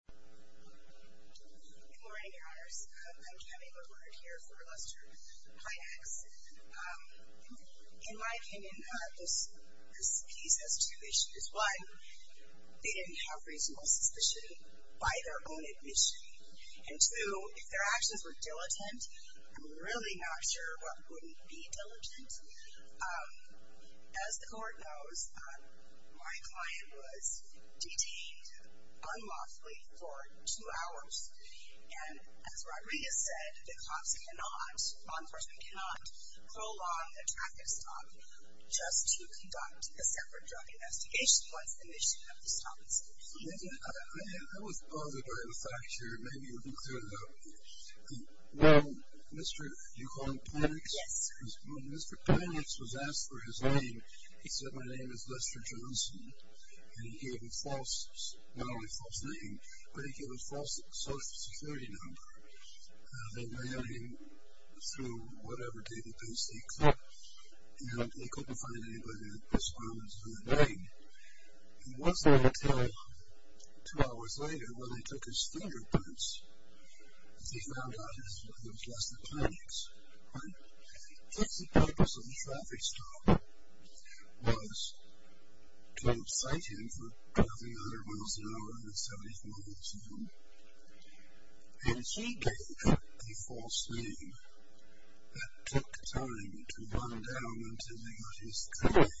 In my opinion, this piece has two issues. One, they didn't have reasonable suspicion by their own admission. And two, if their actions were diligent, I'm really not sure what wouldn't be diligent. As the court knows, my client was detained unlawfully for two hours. And as Rodriguez said, the cops cannot, law enforcement cannot, prolong a traffic stop just to conduct a separate drug investigation once the mission of the stop is complete. I was bothered by the fact here, maybe you can clear it up. Mr. Pinex was asked for his name. He said, my name is Lester Johnson. And he gave a false, not only false name, but he gave a false social security number. They ran him through whatever database they could. And they couldn't find anybody with this name. He was there until two hours later, when they took his fingerprints. They found out that he was Lester Pinex. But I think the purpose of the traffic stop was to excite him for driving 100 miles an hour in a 70-mile zone. And he gave a false name that took time to run down until they got his name.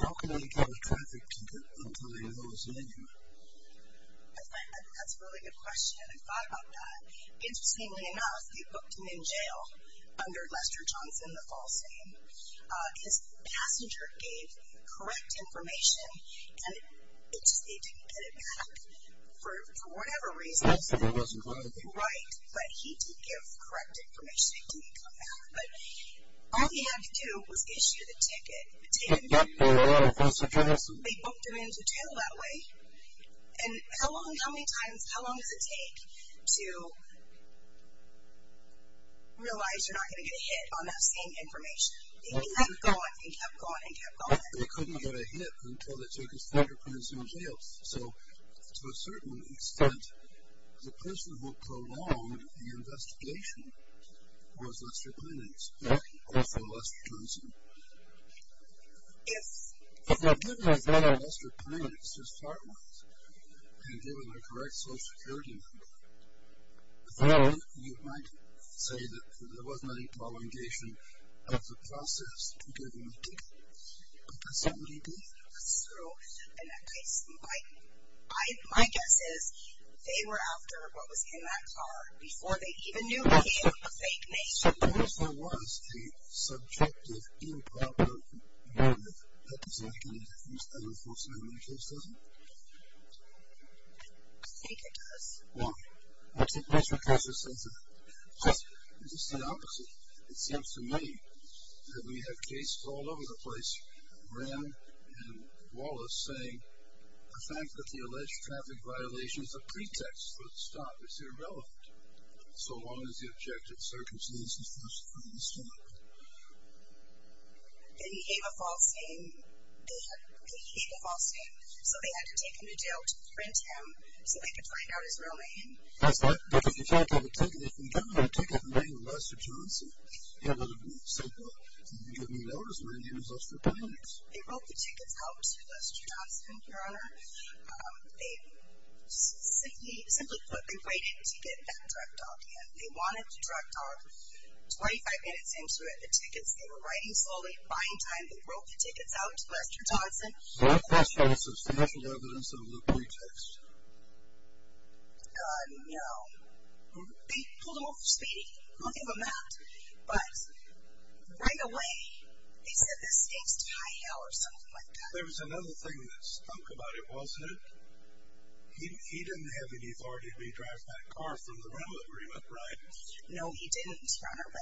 How can I get a traffic ticket until I know his name? That's a really good question. I thought about that. Interestingly enough, they booked him in jail under Lester Johnson, the false name. His passenger gave correct information and they didn't get it back for whatever reason. But he did give correct information and didn't come back. All he had to do was issue the ticket. They booked him in jail that way. And how long does it take to realize you're not going to get a hit on that same information? He kept going and kept going. They couldn't get a hit until they took his fingerprints in jail. So, to a certain extent, the person who prolonged the investigation was Lester Pinex, also Lester Johnson. If they had given us Lester Pinex as part ones and given the correct Social Security number, you might say that there wasn't any prolongation of the process to give him a ticket. But there certainly did. So, in that case, my guess is they were after what was in that car before they even knew he had a fake name. Suppose there was a subjective improper motive that is likely to have used that enforcement in any case, does it? I think it does. Well, I think that's what Cassius says. It's just the opposite. It seems to me that we have cases all over the place, Graham and Wallace, saying the fact that the alleged traffic violation is a pretext for a stop is irrelevant, so long as the objective circumstance is to stop. He gave a false name. He gave a false name. So, they had to take him to jail to print him so they could find out his real name. That's right. But if you can't have a ticket, if you can't have a ticket and bring Lester Johnson and let him say, well, you can give me an elders name and use Lester Pinex. They broke the tickets out to Lester Johnson, Your Honor. Simply put, they waited to get that drug dog in. They wanted the drug dog 25 minutes into it. The tickets, they were writing slowly and buying time. They broke the tickets out to Lester Johnson. That's right. That's the official evidence of a pretext. God, no. They pulled him over for speeding. I'll give them that. But, right away, they said this takes to high hell or something like that. There was another thing that stunk about it, wasn't it? He didn't have any authority to be driving that car through the rental agreement, right? No, he didn't, Your Honor.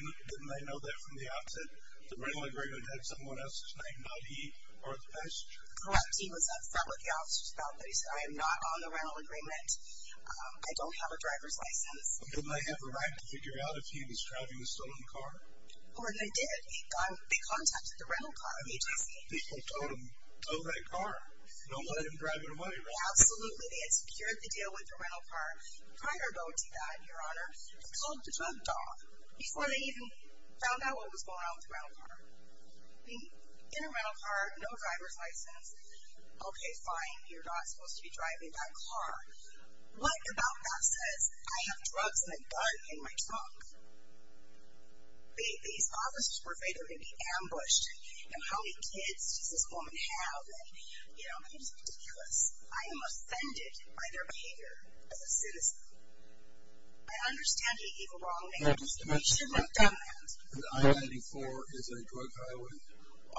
Didn't they know that from the outset? The rental agreement had someone else's name, not he or the passenger. He was upset with the officers about that. He said, I am not on the rental agreement. I don't have a driver's license. Didn't they have the right to figure out if he was driving the stolen car? Well, they did. They contacted the rental car agency. People told them, oh, that car. Don't let him drive it away, right? Absolutely. They had secured the deal with the rental car. Prior to that, Your Honor, it was called the drug dog before they even found out what was going on with the rental car. In a rental car, no driver's license. Okay, fine. You're not supposed to be driving that car. What about that says I have drugs and a gun in my trunk? These officers were afraid they were going to be ambushed. And how many kids does this woman have? It was ridiculous. I am offended by their behavior as a citizen. I understand he gave a wrong name. He should not have done that. And I-84 is a drug highway?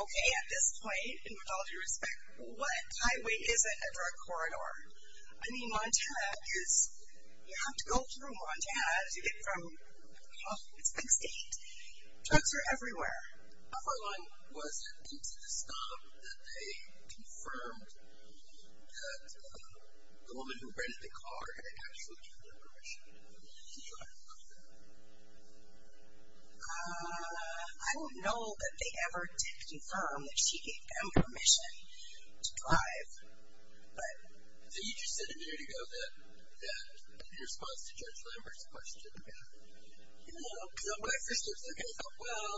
Okay, at this point, and with all due respect, what highway isn't a drug corridor? I mean, Montana is... You have to go through Montana to get from... It's a big state. Drugs are everywhere. How far along was it into the stop that they confirmed that the woman who rented the car had actually given them permission to drive? I don't know that they ever did confirm that she gave them permission to drive, but... So you just said a minute ago that in response to Judge Lambert's question, you know, black sisters are going to go, well,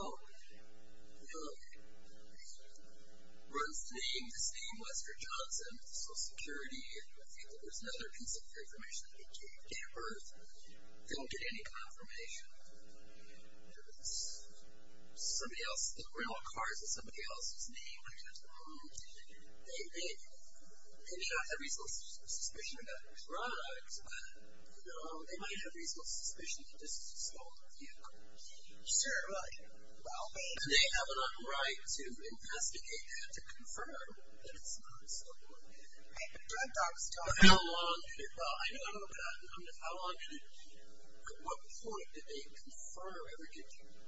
you know, Ruth's name, this name, Wesker Johnson, Social Security, I think that there's another piece of information that they gave her. They don't get any confirmation. Somebody else... The rental car is in somebody else's name. They may not have reasonable suspicion about drugs, but, you know, they might have reasonable suspicion that this is a stolen vehicle. And they have an unright to investigate that to confirm that it's not a stolen vehicle. How long did it... Well, I don't know about... How long did it... At what point did they confirm...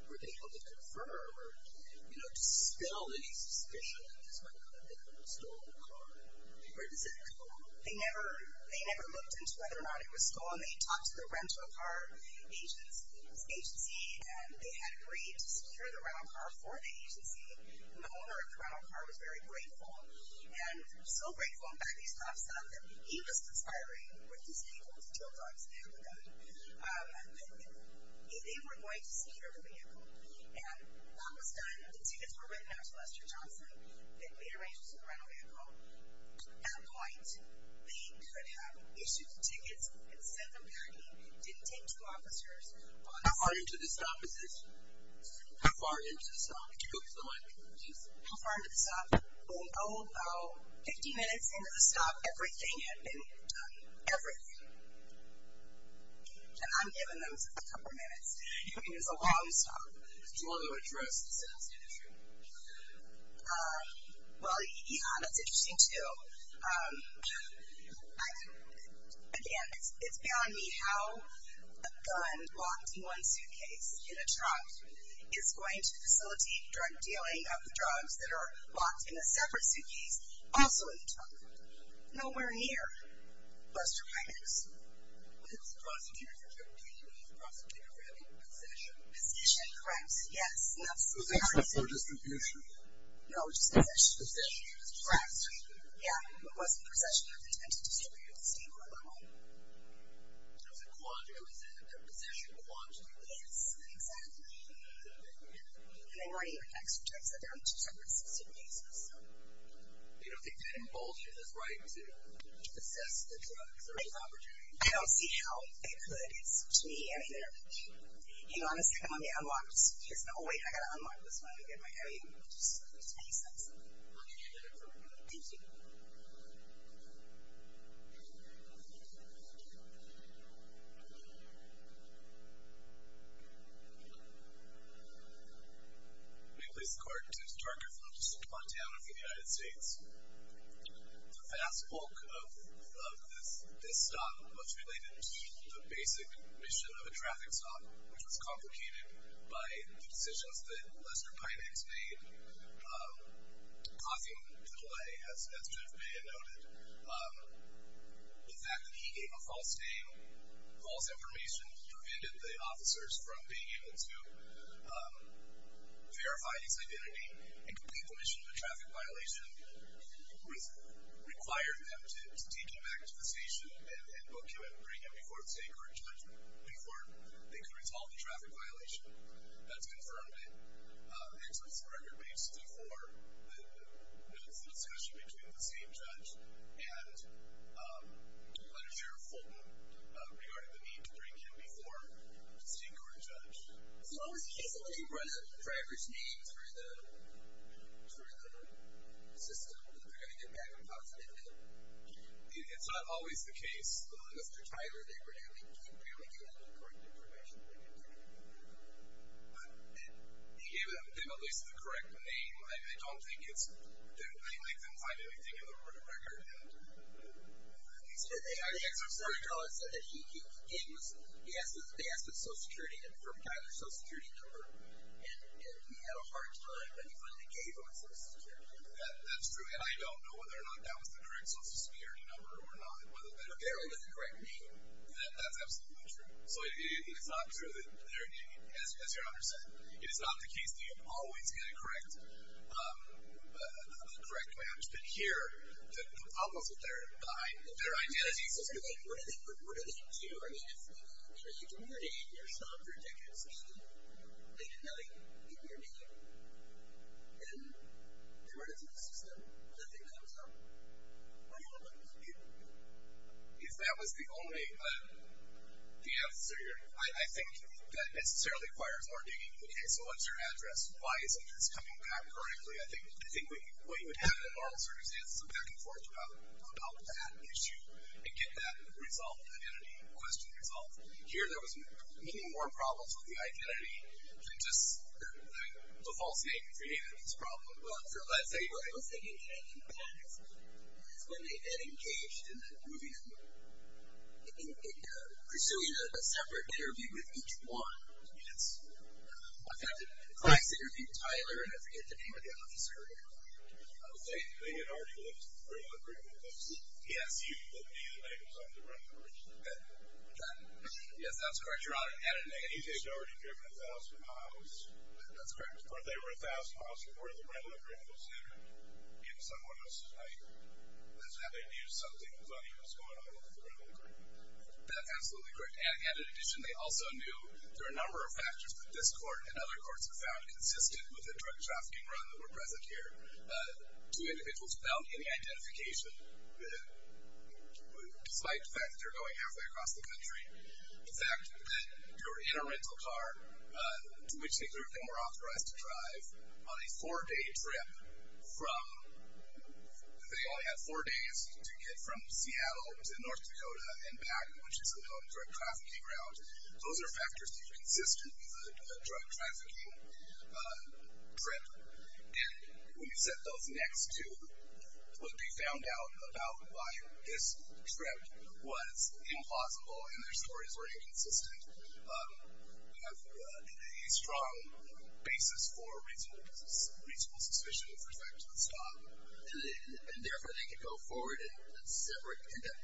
Were they able to confirm or, you know, dispel any suspicion that this might have been a stolen car? Where does that come from? They never looked into whether or not it was stolen. They talked to the rental car agency and they had agreed to secure the rental car for the agency. And the owner of the rental car was very grateful and so grateful, he was conspiring with these people to deal drugs with them. They were going to secure the vehicle and that was done. The tickets were written out to Wesker Johnson. They made arrangements with the rental vehicle. At that point, they could have issued the tickets and sent them back in. It didn't take two officers. How far into the stop is this? How far into the stop? How far into the stop? Oh, about 50 minutes into the stop everything had been done. Everything. And I'm giving them a couple of minutes. It's a long stop. Do you want to address the sales industry? Um, well, yeah, that's interesting too. Um, again, it's beyond me how a gun locked in one suitcase in a trunk is going to facilitate drug dealing of the drugs that are locked in a separate suitcase also in the trunk. Nowhere near Wesker Pimax. It's a prosecutor's interpretation of a prosecutor Possession, correct. Yes. No, just possession. Possession. Correct. Yeah, it wasn't possession. It was attempted to steal. It was a quantum. It was a possession quantum. Yes, exactly. And they weren't even experts. They were in a separate suitcase. You don't think that involves his right to possess the drugs? I don't see how it could. Hang on a second, let me unlock this. Oh wait, I've got to unlock this. Let me get my headphones. Thank you. May it please the court. James Darker from the District of Montana for the United States. The vast bulk of this was done much related to the basic mission of a traffic stop which was complicated by the decisions that Wesker Pimax made causing the delay, as Jeff Bay had noted. The fact that he gave a false name false information prevented the officers from being able to verify his identity and complete the mission of a traffic violation required them to take him back to the station and book him and bring him before the State Court of Judgment before they could resolve the traffic violation. That's confirmed. And so it's a record based for the discussion between the State Judge and Letter Sheriff Fulton regarding the need to bring him before the State Court of Judge. So in the case of looking for the driver's name through the system that they're going to get back It's not always the case Mr. Tyler, they rarely give any correct information He gave them at least the correct name. I don't think it's they didn't find anything in the record. He said that they asked for Tyler's social security number and he had a hard time when they gave him his social security number. That's true. And I don't know whether or not that was the correct social security number or not. But they're only the correct name. That's absolutely true. So it's not true as your Honor said. It is not the case that you always get a correct the correct management here. The problem is with their identities. What do they do? I mean, if you don't have a name, you're stopped for a decade or so. They didn't have a name. Then they run into the system and the thing comes up. What do you do? If that was the only the answer here, I think that necessarily requires more digging. Okay, so what's your address? Why isn't this coming back correctly? I think what you would have in a normal circumstance is some back and forth about that issue and get that resolved identity question resolved. Here there was many more problems with the identity just the false name created this problem. What's the impact when they get engaged in that movie pursuing a separate interview with each one? In fact, I interviewed Tyler and I forget the name of the officer. They had already looked through the brief and said, yes, you will be the next one to run into the bed. Yes, that's correct. They had already driven a thousand miles. That's correct. That's absolutely correct. In addition, they also knew there were a number of factors that this court and other courts have found consistent with the drug trafficking run that were present here. Two individuals without any identification despite the fact that they're going halfway across the country the fact that they were in a rental car to which they were authorized to drive on a four-day trip from they only had four days to get from Seattle to North Dakota and back which is a known drug trafficking ground. Those are factors that are consistent with a drug trafficking trip. When you set those next to what they found out about why this trip was implausible and their stories were inconsistent you have a strong basis for reasonable suspicion with respect to the stop and therefore they could go forward and conduct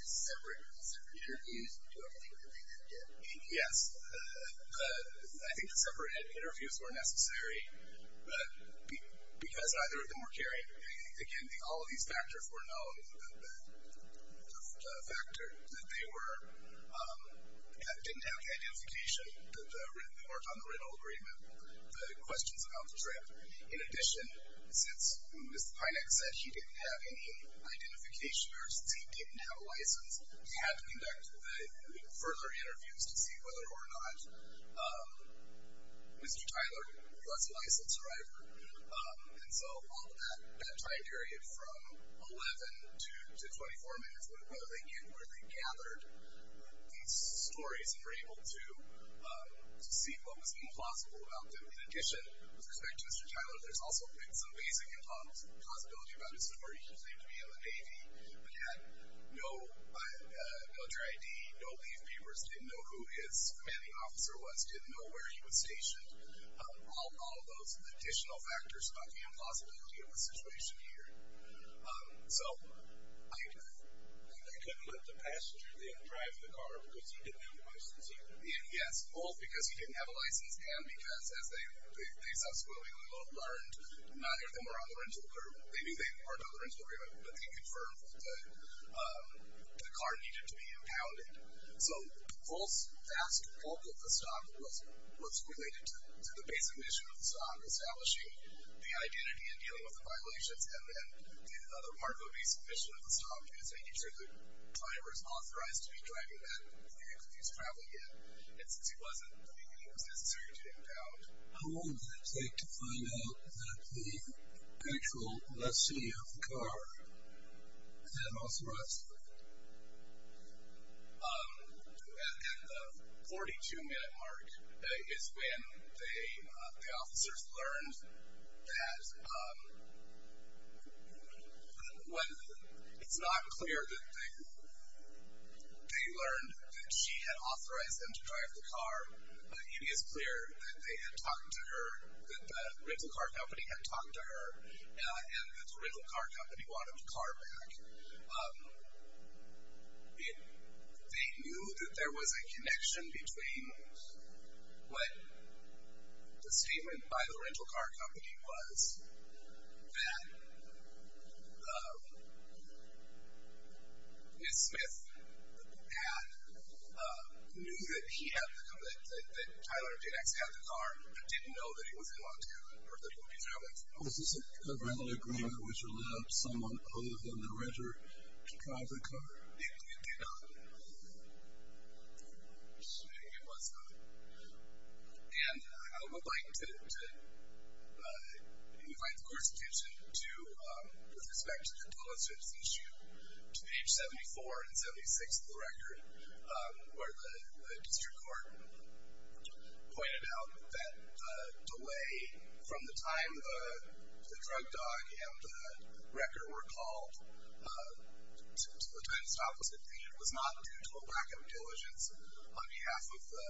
separate interviews and do everything that they did. Yes. I think the separate interviews were necessary because either of them were carrying again, all of these factors were known that they were didn't have the identification on the rental agreement the questions about the trip in addition, since Mr. Pinek said he didn't have any identification or since he didn't have a license, he had to conduct further interviews to see whether or not Mr. Tyler was a licensed driver and so all of that time period from 11 to 24 minutes where they gathered these stories and were able to see what was implausible about them. In addition with respect to Mr. Tyler, there's also been some basic impossibility about his story. He claimed to be in the Navy but had no military ID, no leave papers didn't know who his commanding officer was, didn't know where he was stationed all of those additional factors about the impossibility of the situation here so they couldn't let the passenger drive the car because he didn't have a license either yes, both because he didn't have a license and because as they subsequently learned, neither of them were on the rental agreement but they confirmed that the car needed to be impounded so the vast bulk of the stock was related to the basic mission of the stock, establishing the identity and dealing with the violations and then the other part of the basic mission of the stock was making sure the driver was authorized to be driving that vehicle if he was traveling it and since he wasn't, he was necessary to be impounded. How long did it take to find out that the actual legacy of the car had also rusted? At the 42 minute mark is when the officers learned that it's not clear that they learned that she had authorized them to drive the car but it is clear that they had talked to her that the rental car company had talked to her and that the rental car company wanted the car back they knew that there was a connection between when the statement by the rental car company was that Ms. Smith had knew that he had the car that Tyler did actually have the car but didn't know that he was in Montana or that he was traveling. Was this a rental agreement which allowed someone other than the renter to drive the car? It did not. It was not. And I would like to invite the court's attention to with respect to the diligence issue to page 74 and 76 of the record where the district court pointed out that the delay from the time the drug dog and the record were called to the time the stop was completed was not due to a lack of diligence on behalf of the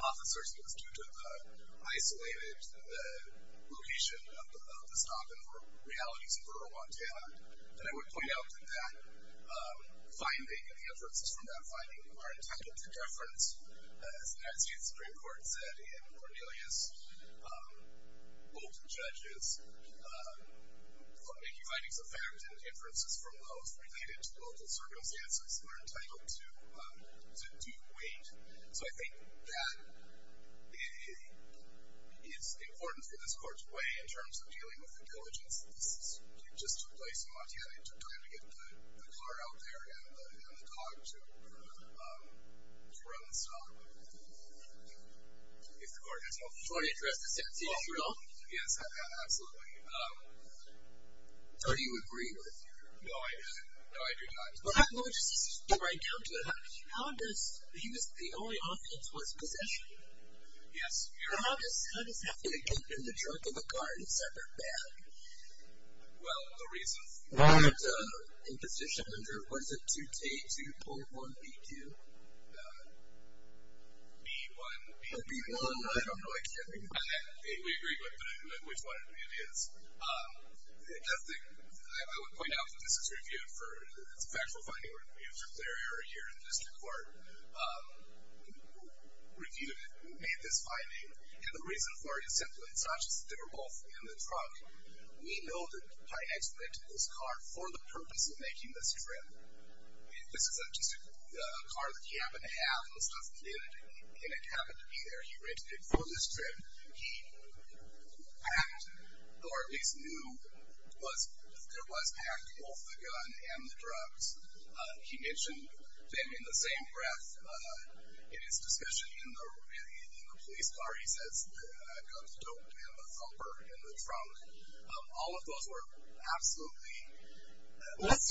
officers it was due to the isolated location of the stop and for realities in rural Montana and I would point out that that finding and the inferences from that finding are entitled to deference as the United States Supreme Court said in Cornelius both judges for making findings of fact and inferences from those related to local circumstances are entitled to due weight so I think that it is important for this court's way in terms of dealing with the diligence just to a place in Montana it took time to get the car out there and the dog to run the stop If the court has no further questions Yes, absolutely So do you agree with your... No, I do not He was the only offense was possession Yes How does that fit in the drug in the car in a separate bag? Well, the reason In position under what is it? 2.1B2 B1 I don't know We agree with which one it is I would point out that this is reviewed for it's a factual finding in the district court reviewed it made this finding and the reason for it is simple it's not just that they were both in the truck we know that Pinex rented this car for the purpose of making this trip this is just a car that he happened to have and it happened to be there he rented it for this trip he packed or at least knew there was packed both the gun and the drugs he mentioned them in the same breath in his discussion in the police car he says the guns don't have a bumper in the trunk all of those were absolutely what's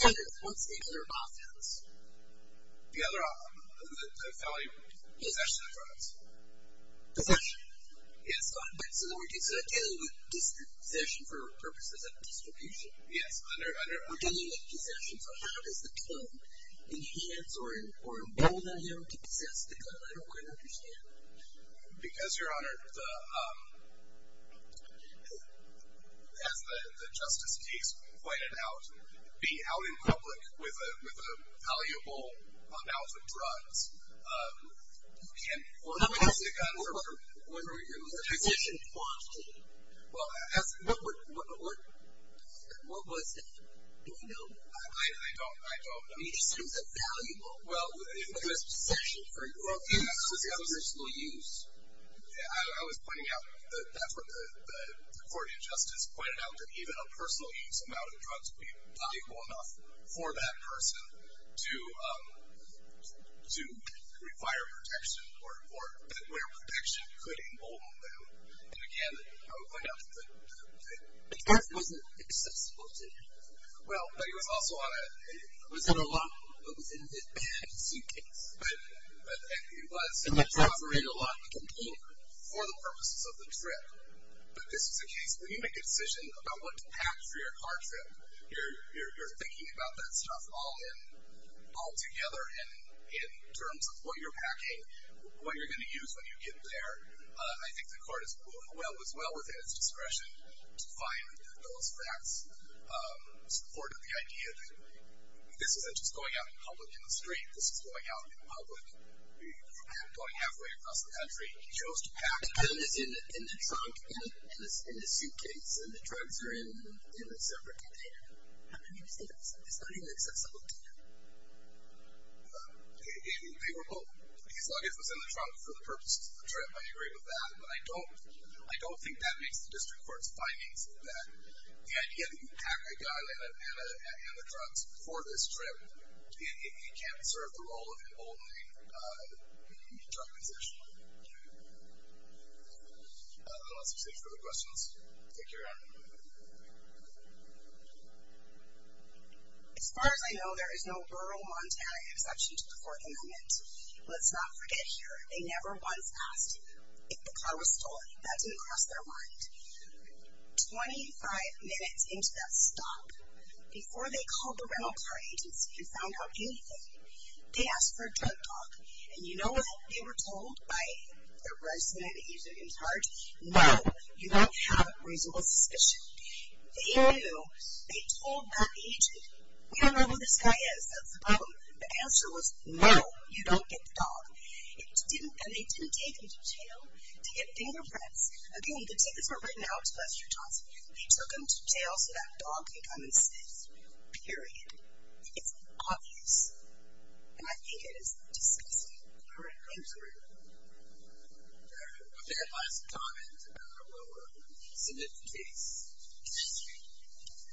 the other offence? the other offence possession of drugs possession we're dealing with possession for purposes of distribution we're dealing with possession so how does the claim enhance or embolden him to possess the gun I don't quite understand because your honor as the justice case pointed out being out in public with a valuable amount of drugs and possessing a gun for possession what was that? do we know? I don't know in terms of valuable possession for personal use I was pointing out the court of justice pointed out that even a personal use amount of drugs would be not equal enough for that person to require protection or where protection could embolden them and again I would point out that the gun wasn't accessible to him well, but he was also on a it was in a bag a suitcase but it was for the purposes of the trip but this is a case when you make a decision about what to pack for your car trip you're thinking about that stuff all together in terms of what you're packing what you're going to use when you get there I think the court was well within its discretion to find those facts in support of the idea that this isn't just going out in public in the street this is going out in public going halfway across the country he chose to pack the gun in the trunk, in the suitcase and the drugs are in a separate container how can you say that this is not an accessible container they were both his luggage was in the trunk for the purposes of the trip I agree with that but I don't think that makes the district court's findings that the idea that you pack a gun and the drugs for this trip it can't serve the role of emboldening the drug possession I don't know what else to say for the questions take your round as far as I know there is no rural Montana exception to the fourth amendment let's not forget here they never once asked if the car was stolen that didn't cross their mind 25 minutes into that stop before they called the rental car agency and found out anything they asked for a drug talk and you know what they were told by the resident that used their insurance no you don't have a reasonable suspicion they told that agent we don't know who this guy is that's the problem the answer was no you don't get the dog and they didn't take him to jail to get fingerprints again the tickets were written out to Lester Johnson they took him to jail so that dog can come and sniff period it's obvious and I think it is disgusting for a country if there are any last comments thank you